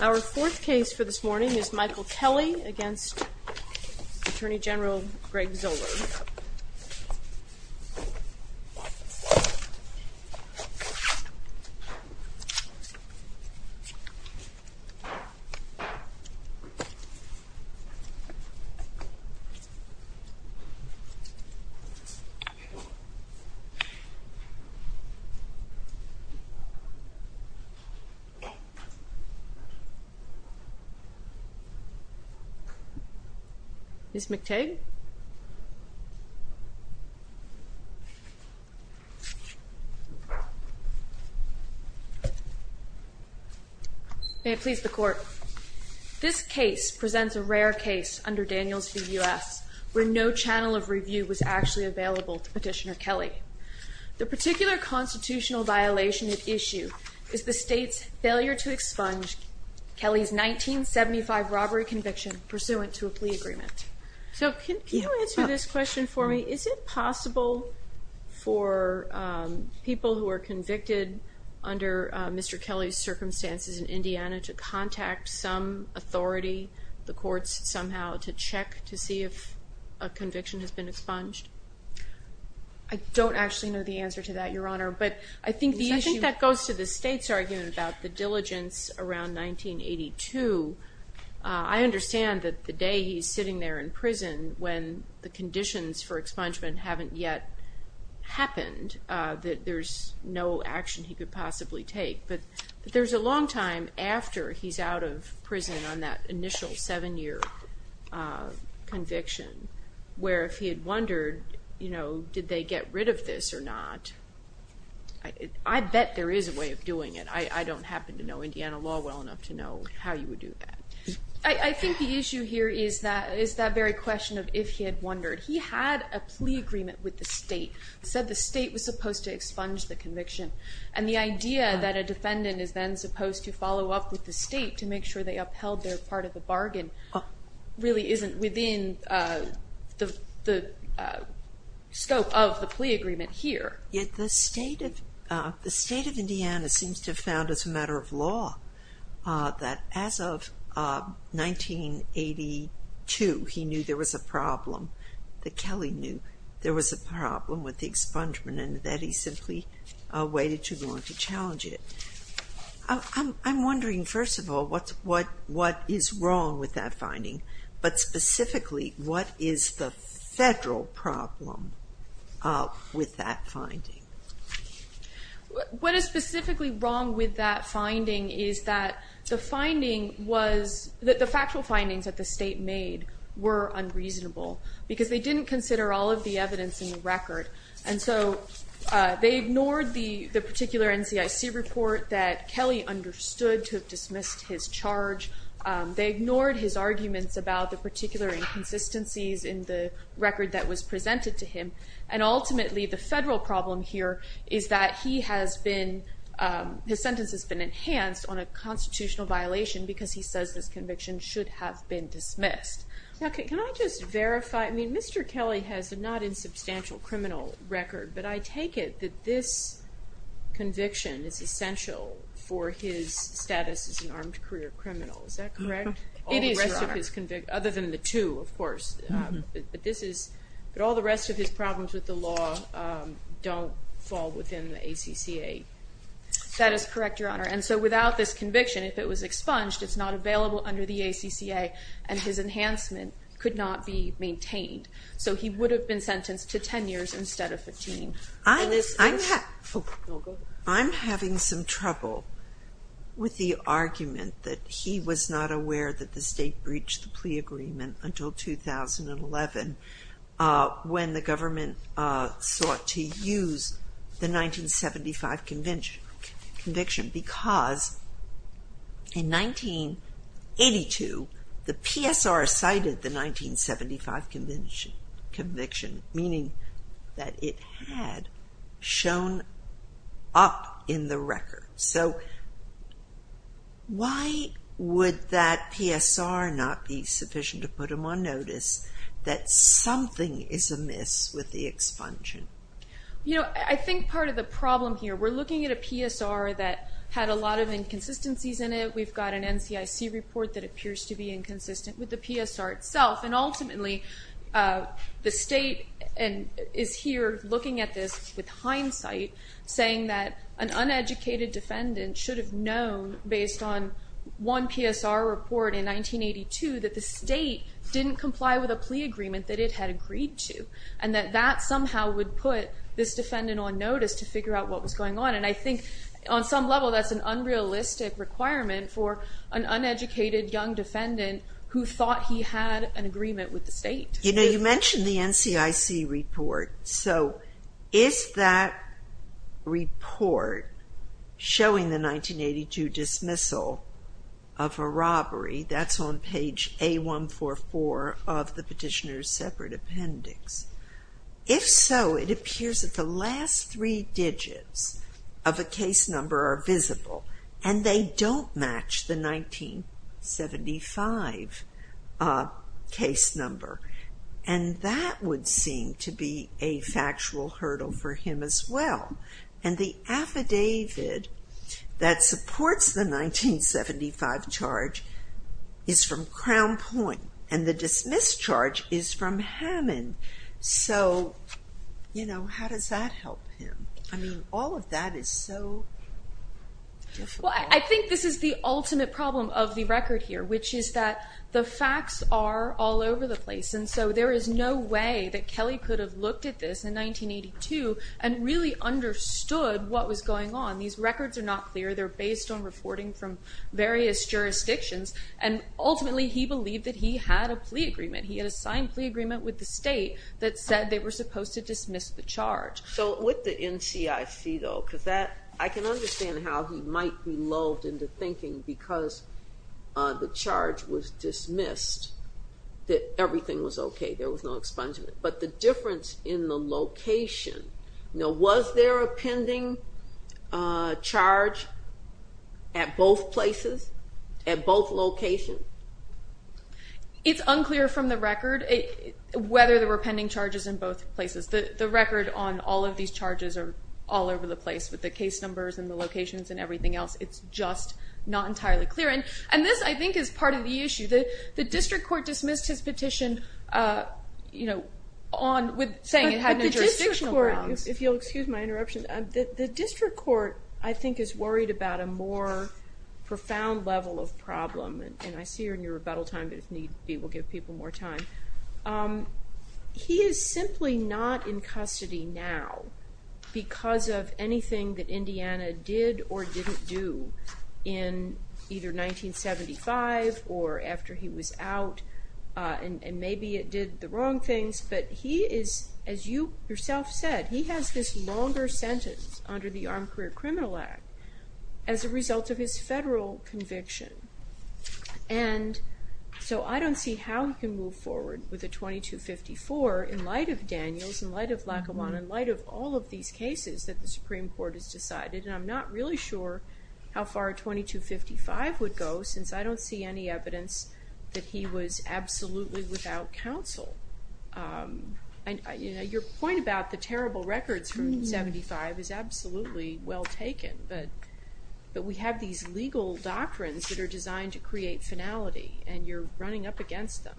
Our fourth case for this morning is Michael Kelley v. Attorney General Greg Zoeller. Ms. McTague? Ms. McTague May it please the Court. This case presents a rare case under Daniels v. U.S. where no channel of review was actually available to Petitioner Kelley. The particular constitutional violation at issue is the State's failure to expunge Kelley's 1975 robbery conviction pursuant to a plea agreement. So can you answer this question for me? Is it possible for people who are convicted under Mr. Kelley's circumstances in Indiana to contact some authority, the courts, somehow to check to see if a conviction has been expunged? I don't actually know the answer to that, Your Honor, but I think the issue I think that goes to the State's argument about the diligence around 1982. I understand that the day he's sitting there in prison, when the conditions for expungement haven't yet happened, that there's no action he could possibly take. But there's a long time after he's out of prison on that initial seven-year conviction where if he had wondered, you know, did they get rid of this or not, I bet there is a way of doing it. I don't happen to know Indiana law well enough to know how you would do that. I think the issue here is that very question of if he had wondered. He had a plea agreement with the State, said the State was supposed to expunge the conviction, and the idea that a defendant is then supposed to follow up with the State to make sure they upheld their part of the bargain really isn't within the scope of the plea agreement here. Yet the State of Indiana seems to have found as a matter of law that as of 1982, he knew there was a problem, that Kelly knew there was a problem with the expungement and that he simply waited too long to challenge it. I'm wondering, first of all, what is wrong with that finding? But specifically, what is the Federal problem with that finding? What is specifically wrong with that finding is that the finding was, the factual findings that the State made were unreasonable because they didn't consider all of the evidence in the record. And so they ignored the particular NCIC report that Kelly understood to have dismissed his charge. They ignored his arguments about the particular inconsistencies in the record that was presented to him. And ultimately, the Federal problem here is that he has been, his sentence has been enhanced on a constitutional violation because he says this conviction should have been dismissed. Now, can I just verify? I mean, Mr. Kelly has a not insubstantial criminal record, but I take it that this conviction is essential for his status as an armed career criminal. Is that correct? It is, Your Honor. Other than the two, of course. But all the rest of his problems with the law don't fall within the ACCA. That is correct, Your Honor. And so without this conviction, if it was expunged, it's not available under the ACCA, and his enhancement could not be maintained. So he would have been sentenced to 10 years instead of 15. I'm having some trouble with the argument that he was not aware that the State breached the plea agreement until 2011 when the government sought to use the 1975 conviction because in 1982 the PSR cited the 1975 conviction, meaning that it had shown up in the record. So why would that PSR not be sufficient to put him on notice that something is amiss with the expunction? You know, I think part of the problem here, we're looking at a PSR that had a lot of inconsistencies in it. We've got an NCIC report that appears to be inconsistent with the PSR itself, and ultimately the State is here looking at this with hindsight, saying that an uneducated defendant should have known, based on one PSR report in 1982, that the State didn't comply with a plea agreement that it had agreed to and that that somehow would put this defendant on notice to figure out what was going on. And I think on some level that's an unrealistic requirement for an uneducated young defendant who thought he had an agreement with the State. You know, you mentioned the NCIC report. So is that report showing the 1982 dismissal of a robbery? That's on page A144 of the petitioner's separate appendix. If so, it appears that the last three digits of a case number are visible, and they don't match the 1975 case number. And that would seem to be a factual hurdle for him as well. And the affidavit that supports the 1975 charge is from Crown Point, and the dismissed charge is from Hammond. So, you know, how does that help him? I mean, all of that is so difficult. Well, I think this is the ultimate problem of the record here, which is that the facts are all over the place, and so there is no way that Kelly could have looked at this in 1982 and really understood what was going on. These records are not clear. They're based on reporting from various jurisdictions, and ultimately he believed that he had a plea agreement. He had a signed plea agreement with the state that said they were supposed to dismiss the charge. So with the NCIC, though, because I can understand how he might be lulled into thinking because the charge was dismissed that everything was okay, there was no expungement. But the difference in the location, you know, was there a pending charge at both places, at both locations? It's unclear from the record whether there were pending charges in both places. The record on all of these charges are all over the place with the case numbers and the locations and everything else. It's just not entirely clear. And this, I think, is part of the issue. The district court dismissed his petition, you know, saying it had no jurisdictional grounds. If you'll excuse my interruption, the district court, I think, is worried about a more profound level of problem. And I see you're in your rebuttal time, but if need be we'll give people more time. He is simply not in custody now because of anything that Indiana did or didn't do in either 1975 or after he was out. And maybe it did the wrong things, but he is, as you yourself said, he has this longer sentence under the Armed Career Criminal Act as a result of his federal conviction. And so I don't see how he can move forward with a 2254 in light of Daniels, in light of Lackawanna, in light of all of these cases that the Supreme Court has decided. And I'm not really sure how far a 2255 would go since I don't see any evidence that he was absolutely without counsel. Your point about the terrible records from 1975 is absolutely well taken, but we have these legal doctrines that are designed to create finality, and you're running up against them.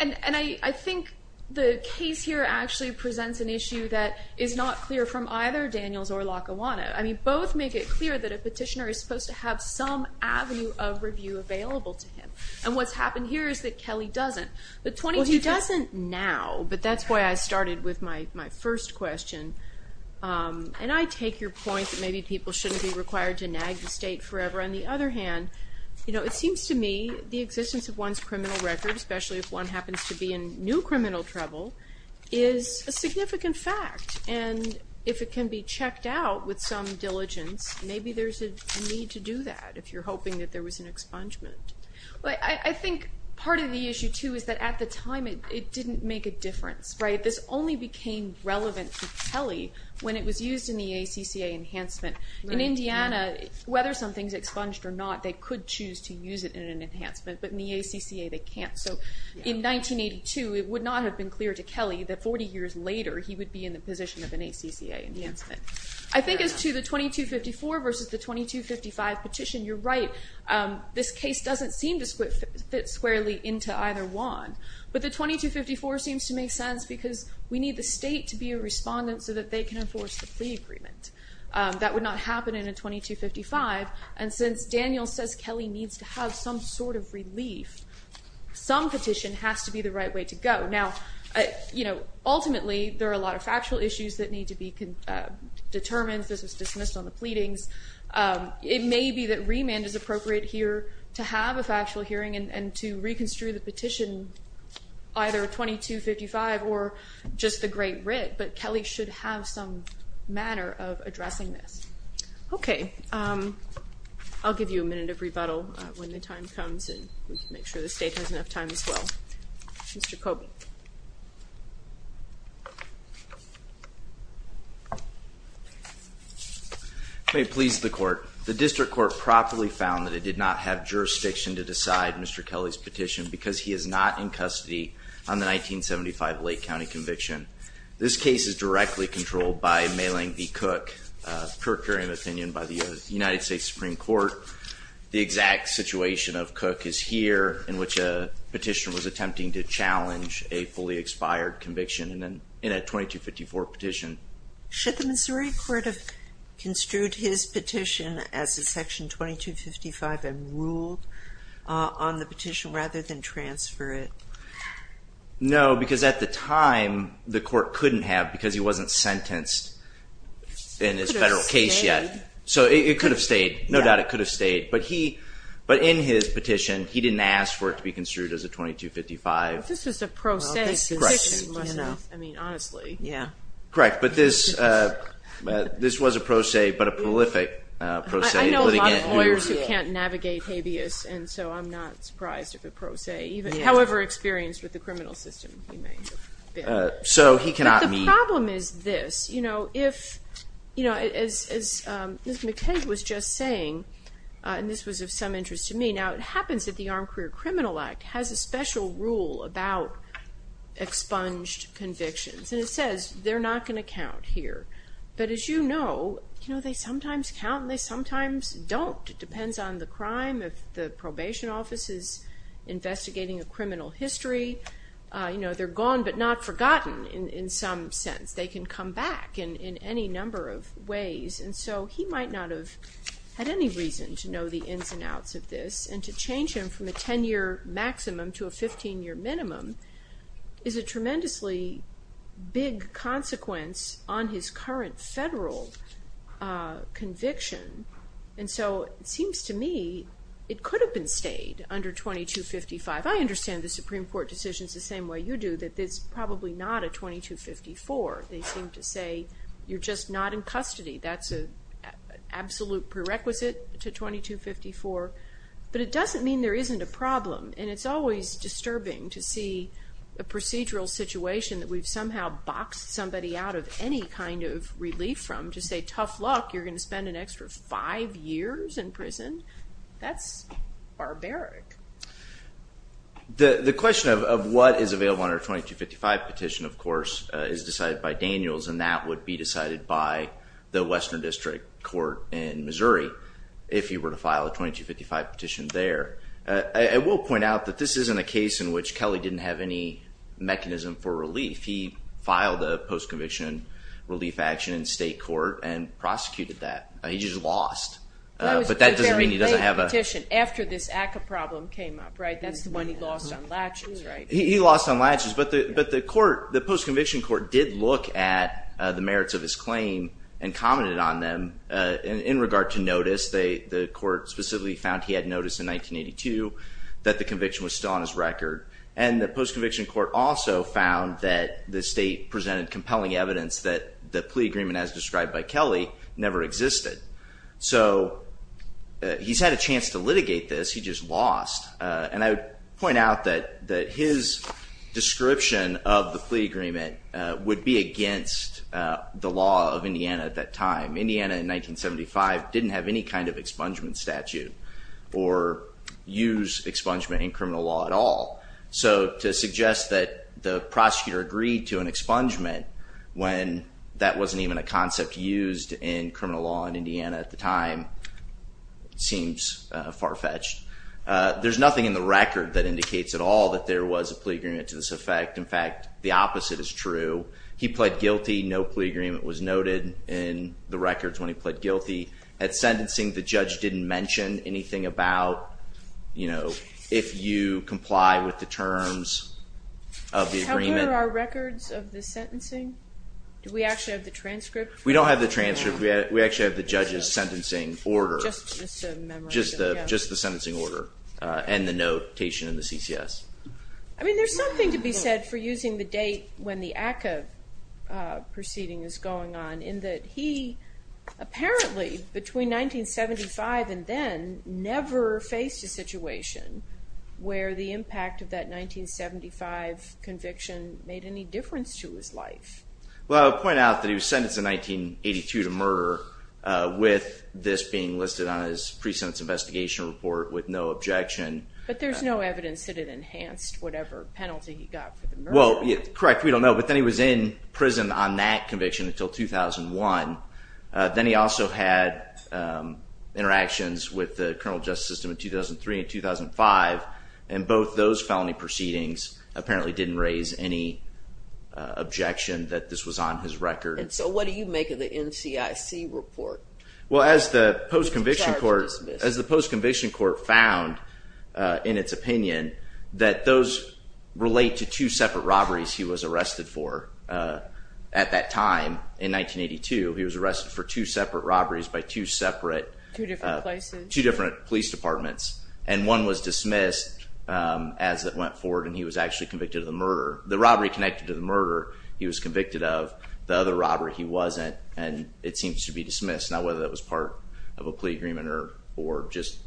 And I think the case here actually presents an issue that is not clear from either Daniels or Lackawanna. Both make it clear that a petitioner is supposed to have some avenue of review available to him. And what's happened here is that Kelly doesn't. Well, he doesn't now, but that's why I started with my first question. And I take your point that maybe people shouldn't be required to nag the state forever. On the other hand, it seems to me the existence of one's criminal record, especially if one happens to be in new criminal trouble, is a significant fact. And if it can be checked out with some diligence, maybe there's a need to do that if you're hoping that there was an expungement. I think part of the issue, too, is that at the time it didn't make a difference. This only became relevant to Kelly when it was used in the ACCA enhancement. In Indiana, whether something's expunged or not, they could choose to use it in an enhancement, but in the ACCA they can't. So in 1982 it would not have been clear to Kelly that 40 years later he would be in the position of an ACCA enhancement. I think as to the 2254 versus the 2255 petition, you're right. This case doesn't seem to fit squarely into either one. But the 2254 seems to make sense because we need the state to be a respondent so that they can enforce the plea agreement. That would not happen in a 2255. And since Daniel says Kelly needs to have some sort of relief, some petition has to be the right way to go. Now, ultimately there are a lot of factual issues that need to be determined. This was dismissed on the pleadings. It may be that remand is appropriate here to have a factual hearing and to reconstrue the petition either 2255 or just the Great Writ, but Kelly should have some manner of addressing this. Okay. I'll give you a minute of rebuttal when the time comes and we can make sure the state has enough time as well. Mr. Coby. May it please the Court. The district court properly found that it did not have jurisdiction to decide Mr. Kelly's petition because he is not in custody on the 1975 Lake County conviction. This case is directly controlled by Mayling v. Cook, a procuring opinion by the United States Supreme Court. The exact situation of Cook is here, in which a petitioner was attempting to challenge a fully expired conviction in a 2254 petition. Should the Missouri court have construed his petition as a section 2255 and ruled on the petition rather than transfer it? No, because at the time the court couldn't have because he wasn't sentenced in his federal case yet. So it could have stayed. No doubt it could have stayed. But in his petition, he didn't ask for it to be construed as a 2255. This is a pro se. I mean, honestly. Correct. But this was a pro se, but a prolific pro se. I know a lot of lawyers who can't navigate habeas, and so I'm not surprised if it's pro se. However experienced with the criminal system he may have been. But the problem is this. As Ms. McKay was just saying, and this was of some interest to me, now it happens that the Armed Career Criminal Act has a special rule about expunged convictions, and it says they're not going to count here. But as you know, they sometimes count and they sometimes don't. It depends on the crime, if the probation office is investigating a criminal history. They're gone but not forgotten in some sense. They can come back in any number of ways. And so he might not have had any reason to know the ins and outs of this, and to change him from a 10-year maximum to a 15-year minimum is a tremendously big consequence on his current federal conviction. And so it seems to me it could have been stayed under 2255. I understand the Supreme Court decisions the same way you do, that it's probably not a 2254. They seem to say you're just not in custody. That's an absolute prerequisite to 2254. But it doesn't mean there isn't a problem, and it's always disturbing to see a procedural situation that we've somehow boxed somebody out of any kind of relief from to say, tough luck, you're going to spend an extra five years in prison. That's barbaric. The question of what is available under a 2255 petition, of course, is decided by Daniels, and that would be decided by the Western District Court in Missouri if he were to file a 2255 petition there. I will point out that this isn't a case in which Kelly didn't have any mechanism for relief. He filed a post-conviction relief action in state court and prosecuted that. He just lost. But that doesn't mean he doesn't have a petition. After this ACCA problem came up, right? That's the one he lost on latches, right? He lost on latches. But the post-conviction court did look at the merits of his claim and commented on them in regard to notice. The court specifically found he had notice in 1982 that the conviction was still on his record. And the post-conviction court also found that the state presented compelling evidence that the plea agreement as described by Kelly never existed. So he's had a chance to litigate this. He just lost. And I would point out that his description of the plea agreement would be against the law of Indiana at that time. Indiana in 1975 didn't have any kind of expungement statute or use expungement in criminal law at all. So to suggest that the prosecutor agreed to an expungement when that wasn't even a concept used in criminal law in Indiana at the time seems far-fetched. There's nothing in the record that indicates at all that there was a plea agreement to this effect. In fact, the opposite is true. He pled guilty. No plea agreement was noted in the records when he pled guilty. At sentencing, the judge didn't mention anything about if you comply with the terms of the agreement. How good are our records of the sentencing? Do we actually have the transcript? We don't have the transcript. We actually have the judge's sentencing order. Just the memorandum. Just the sentencing order and the notation in the CCS. I mean, there's something to be said for using the date when the ACCA proceeding is going on in that he apparently between 1975 and then never faced a situation where the impact of that 1975 conviction made any difference to his life. Well, I'll point out that he was sentenced in 1982 to murder with this being listed on his pre-sentence investigation report with no objection. But there's no evidence that it enhanced whatever penalty he got for the murder. Well, correct. We don't know. But then he was in prison on that conviction until 2001. Then he also had interactions with the criminal justice system in 2003 and 2005, and both those felony proceedings apparently didn't raise any objection that this was on his record. And so what do you make of the NCIC report? Well, as the post-conviction court found in its opinion that those relate to two separate robberies he was arrested for at that time in 1982. He was arrested for two separate robberies by two separate police departments. And one was dismissed as it went forward, and he was actually convicted of the murder. The robbery connected to the murder he was convicted of. The other robbery he wasn't, and it seems to be dismissed. Now, whether that was part of a plea agreement or just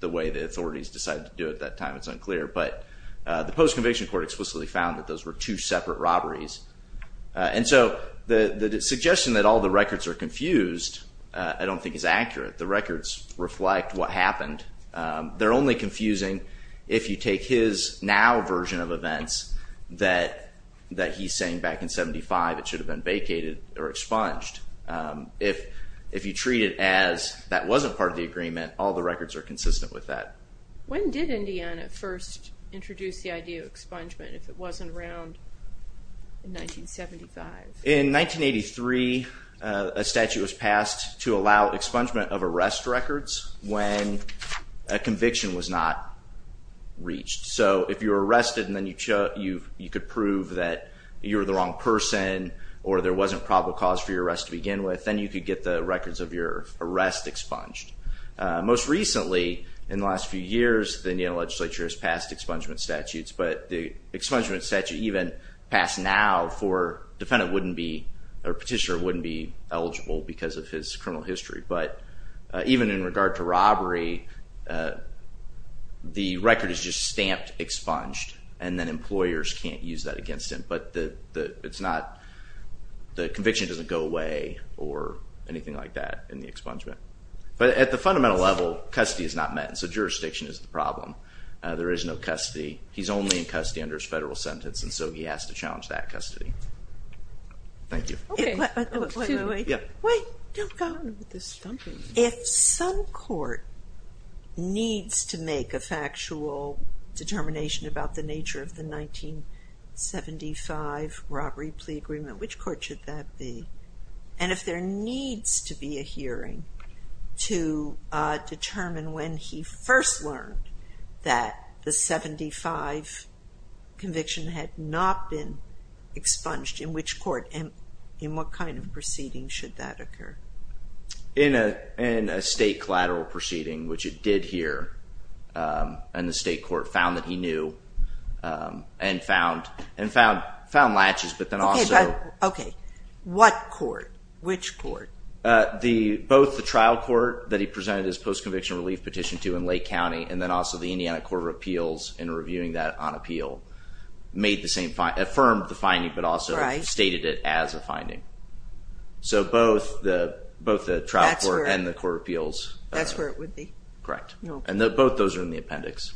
the way the authorities decided to do it at that time, it's unclear. But the post-conviction court explicitly found that those were two separate robberies. And so the suggestion that all the records are confused I don't think is accurate. The records reflect what happened. They're only confusing if you take his now version of events that he's saying back in 1975 it should have been vacated or expunged. If you treat it as that wasn't part of the agreement, all the records are consistent with that. When did Indiana first introduce the idea of expungement if it wasn't around in 1975? In 1983 a statute was passed to allow expungement of arrest records when a conviction was not reached. So if you were arrested and then you could prove that you were the wrong person or there wasn't probable cause for your arrest to begin with, then you could get the records of your arrest expunged. Most recently, in the last few years, the Indiana legislature has passed expungement statutes. But the expungement statute even passed now for a defendant wouldn't be, or a petitioner wouldn't be eligible because of his criminal history. But even in regard to robbery, the record is just stamped expunged and then employers can't use that against him. But the conviction doesn't go away or anything like that in the expungement. But at the fundamental level, custody is not met, so jurisdiction is the problem. There is no custody. He's only in custody under his federal sentence, and so he has to challenge that custody. Thank you. Wait, don't go. If some court needs to make a factual determination about the nature of the 1975 robbery plea agreement, which court should that be? And if there needs to be a hearing to determine when he first learned that the 1975 conviction had not been expunged, in which court? And in what kind of proceeding should that occur? In a state collateral proceeding, which it did here. And the state court found that he knew and found latches, but then also – Okay. What court? Which court? Both the trial court that he presented his post-conviction relief petition to in Lake County and then also the Indiana Court of Appeals in reviewing that on appeal made the same – affirmed the finding, but also stated it as a finding. So both the trial court and the court of appeals. That's where it would be? Correct. And both those are in the appendix.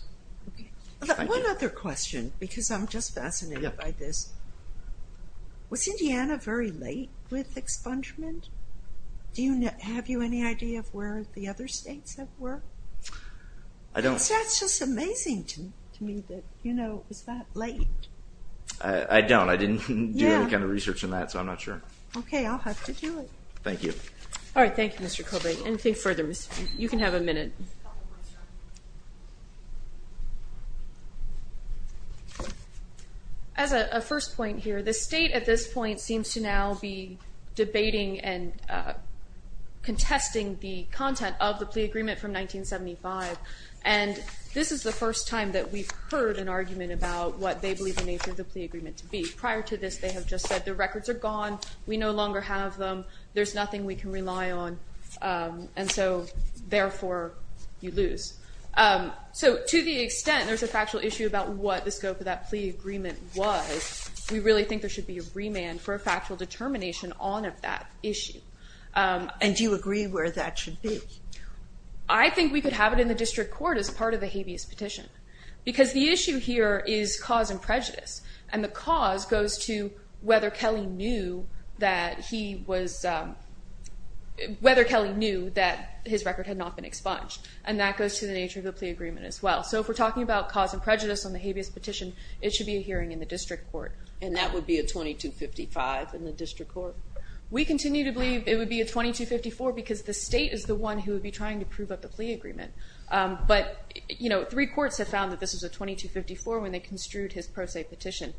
One other question, because I'm just fascinated by this. Was Indiana very late with expungement? Do you have any idea of where the other states were? I don't. That's just amazing to me that, you know, it was that late. I don't. I didn't do any kind of research on that, so I'm not sure. Okay. I'll have to do it. Thank you. All right. Thank you, Mr. Kobe. Anything further? You can have a minute. As a first point here, the state at this point seems to now be debating and contesting the content of the plea agreement from 1975, and this is the first time that we've heard an argument about what they believe the nature of the plea agreement to be. Prior to this, they have just said the records are gone, we no longer have them, there's nothing we can rely on. And so, therefore, you lose. So to the extent there's a factual issue about what the scope of that plea agreement was, we really think there should be a remand for a factual determination on that issue. And do you agree where that should be? I think we could have it in the district court as part of the habeas petition, because the issue here is cause and prejudice, and the cause goes to whether Kelly knew that his record had not been expunged, and that goes to the nature of the plea agreement as well. So if we're talking about cause and prejudice on the habeas petition, it should be a hearing in the district court. And that would be a 2255 in the district court? We continue to believe it would be a 2254, because the state is the one who would be trying to prove up the plea agreement. But, you know, three courts have found that this was a 2254 when they construed his pro se petition.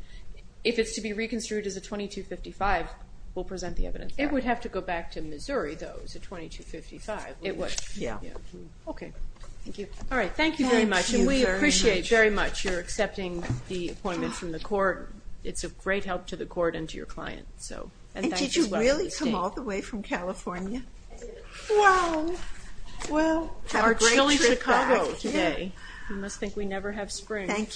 If it's to be reconstrued as a 2255, we'll present the evidence there. It would have to go back to Missouri, though, as a 2255. It would. Yeah. Okay. Thank you. All right, thank you very much, and we appreciate very much your accepting the appointment from the court. It's a great help to the court and to your client. And did you really come all the way from California? Well, have a great trip back. Our chilly Chicago today. You must think we never have spring. Thank you.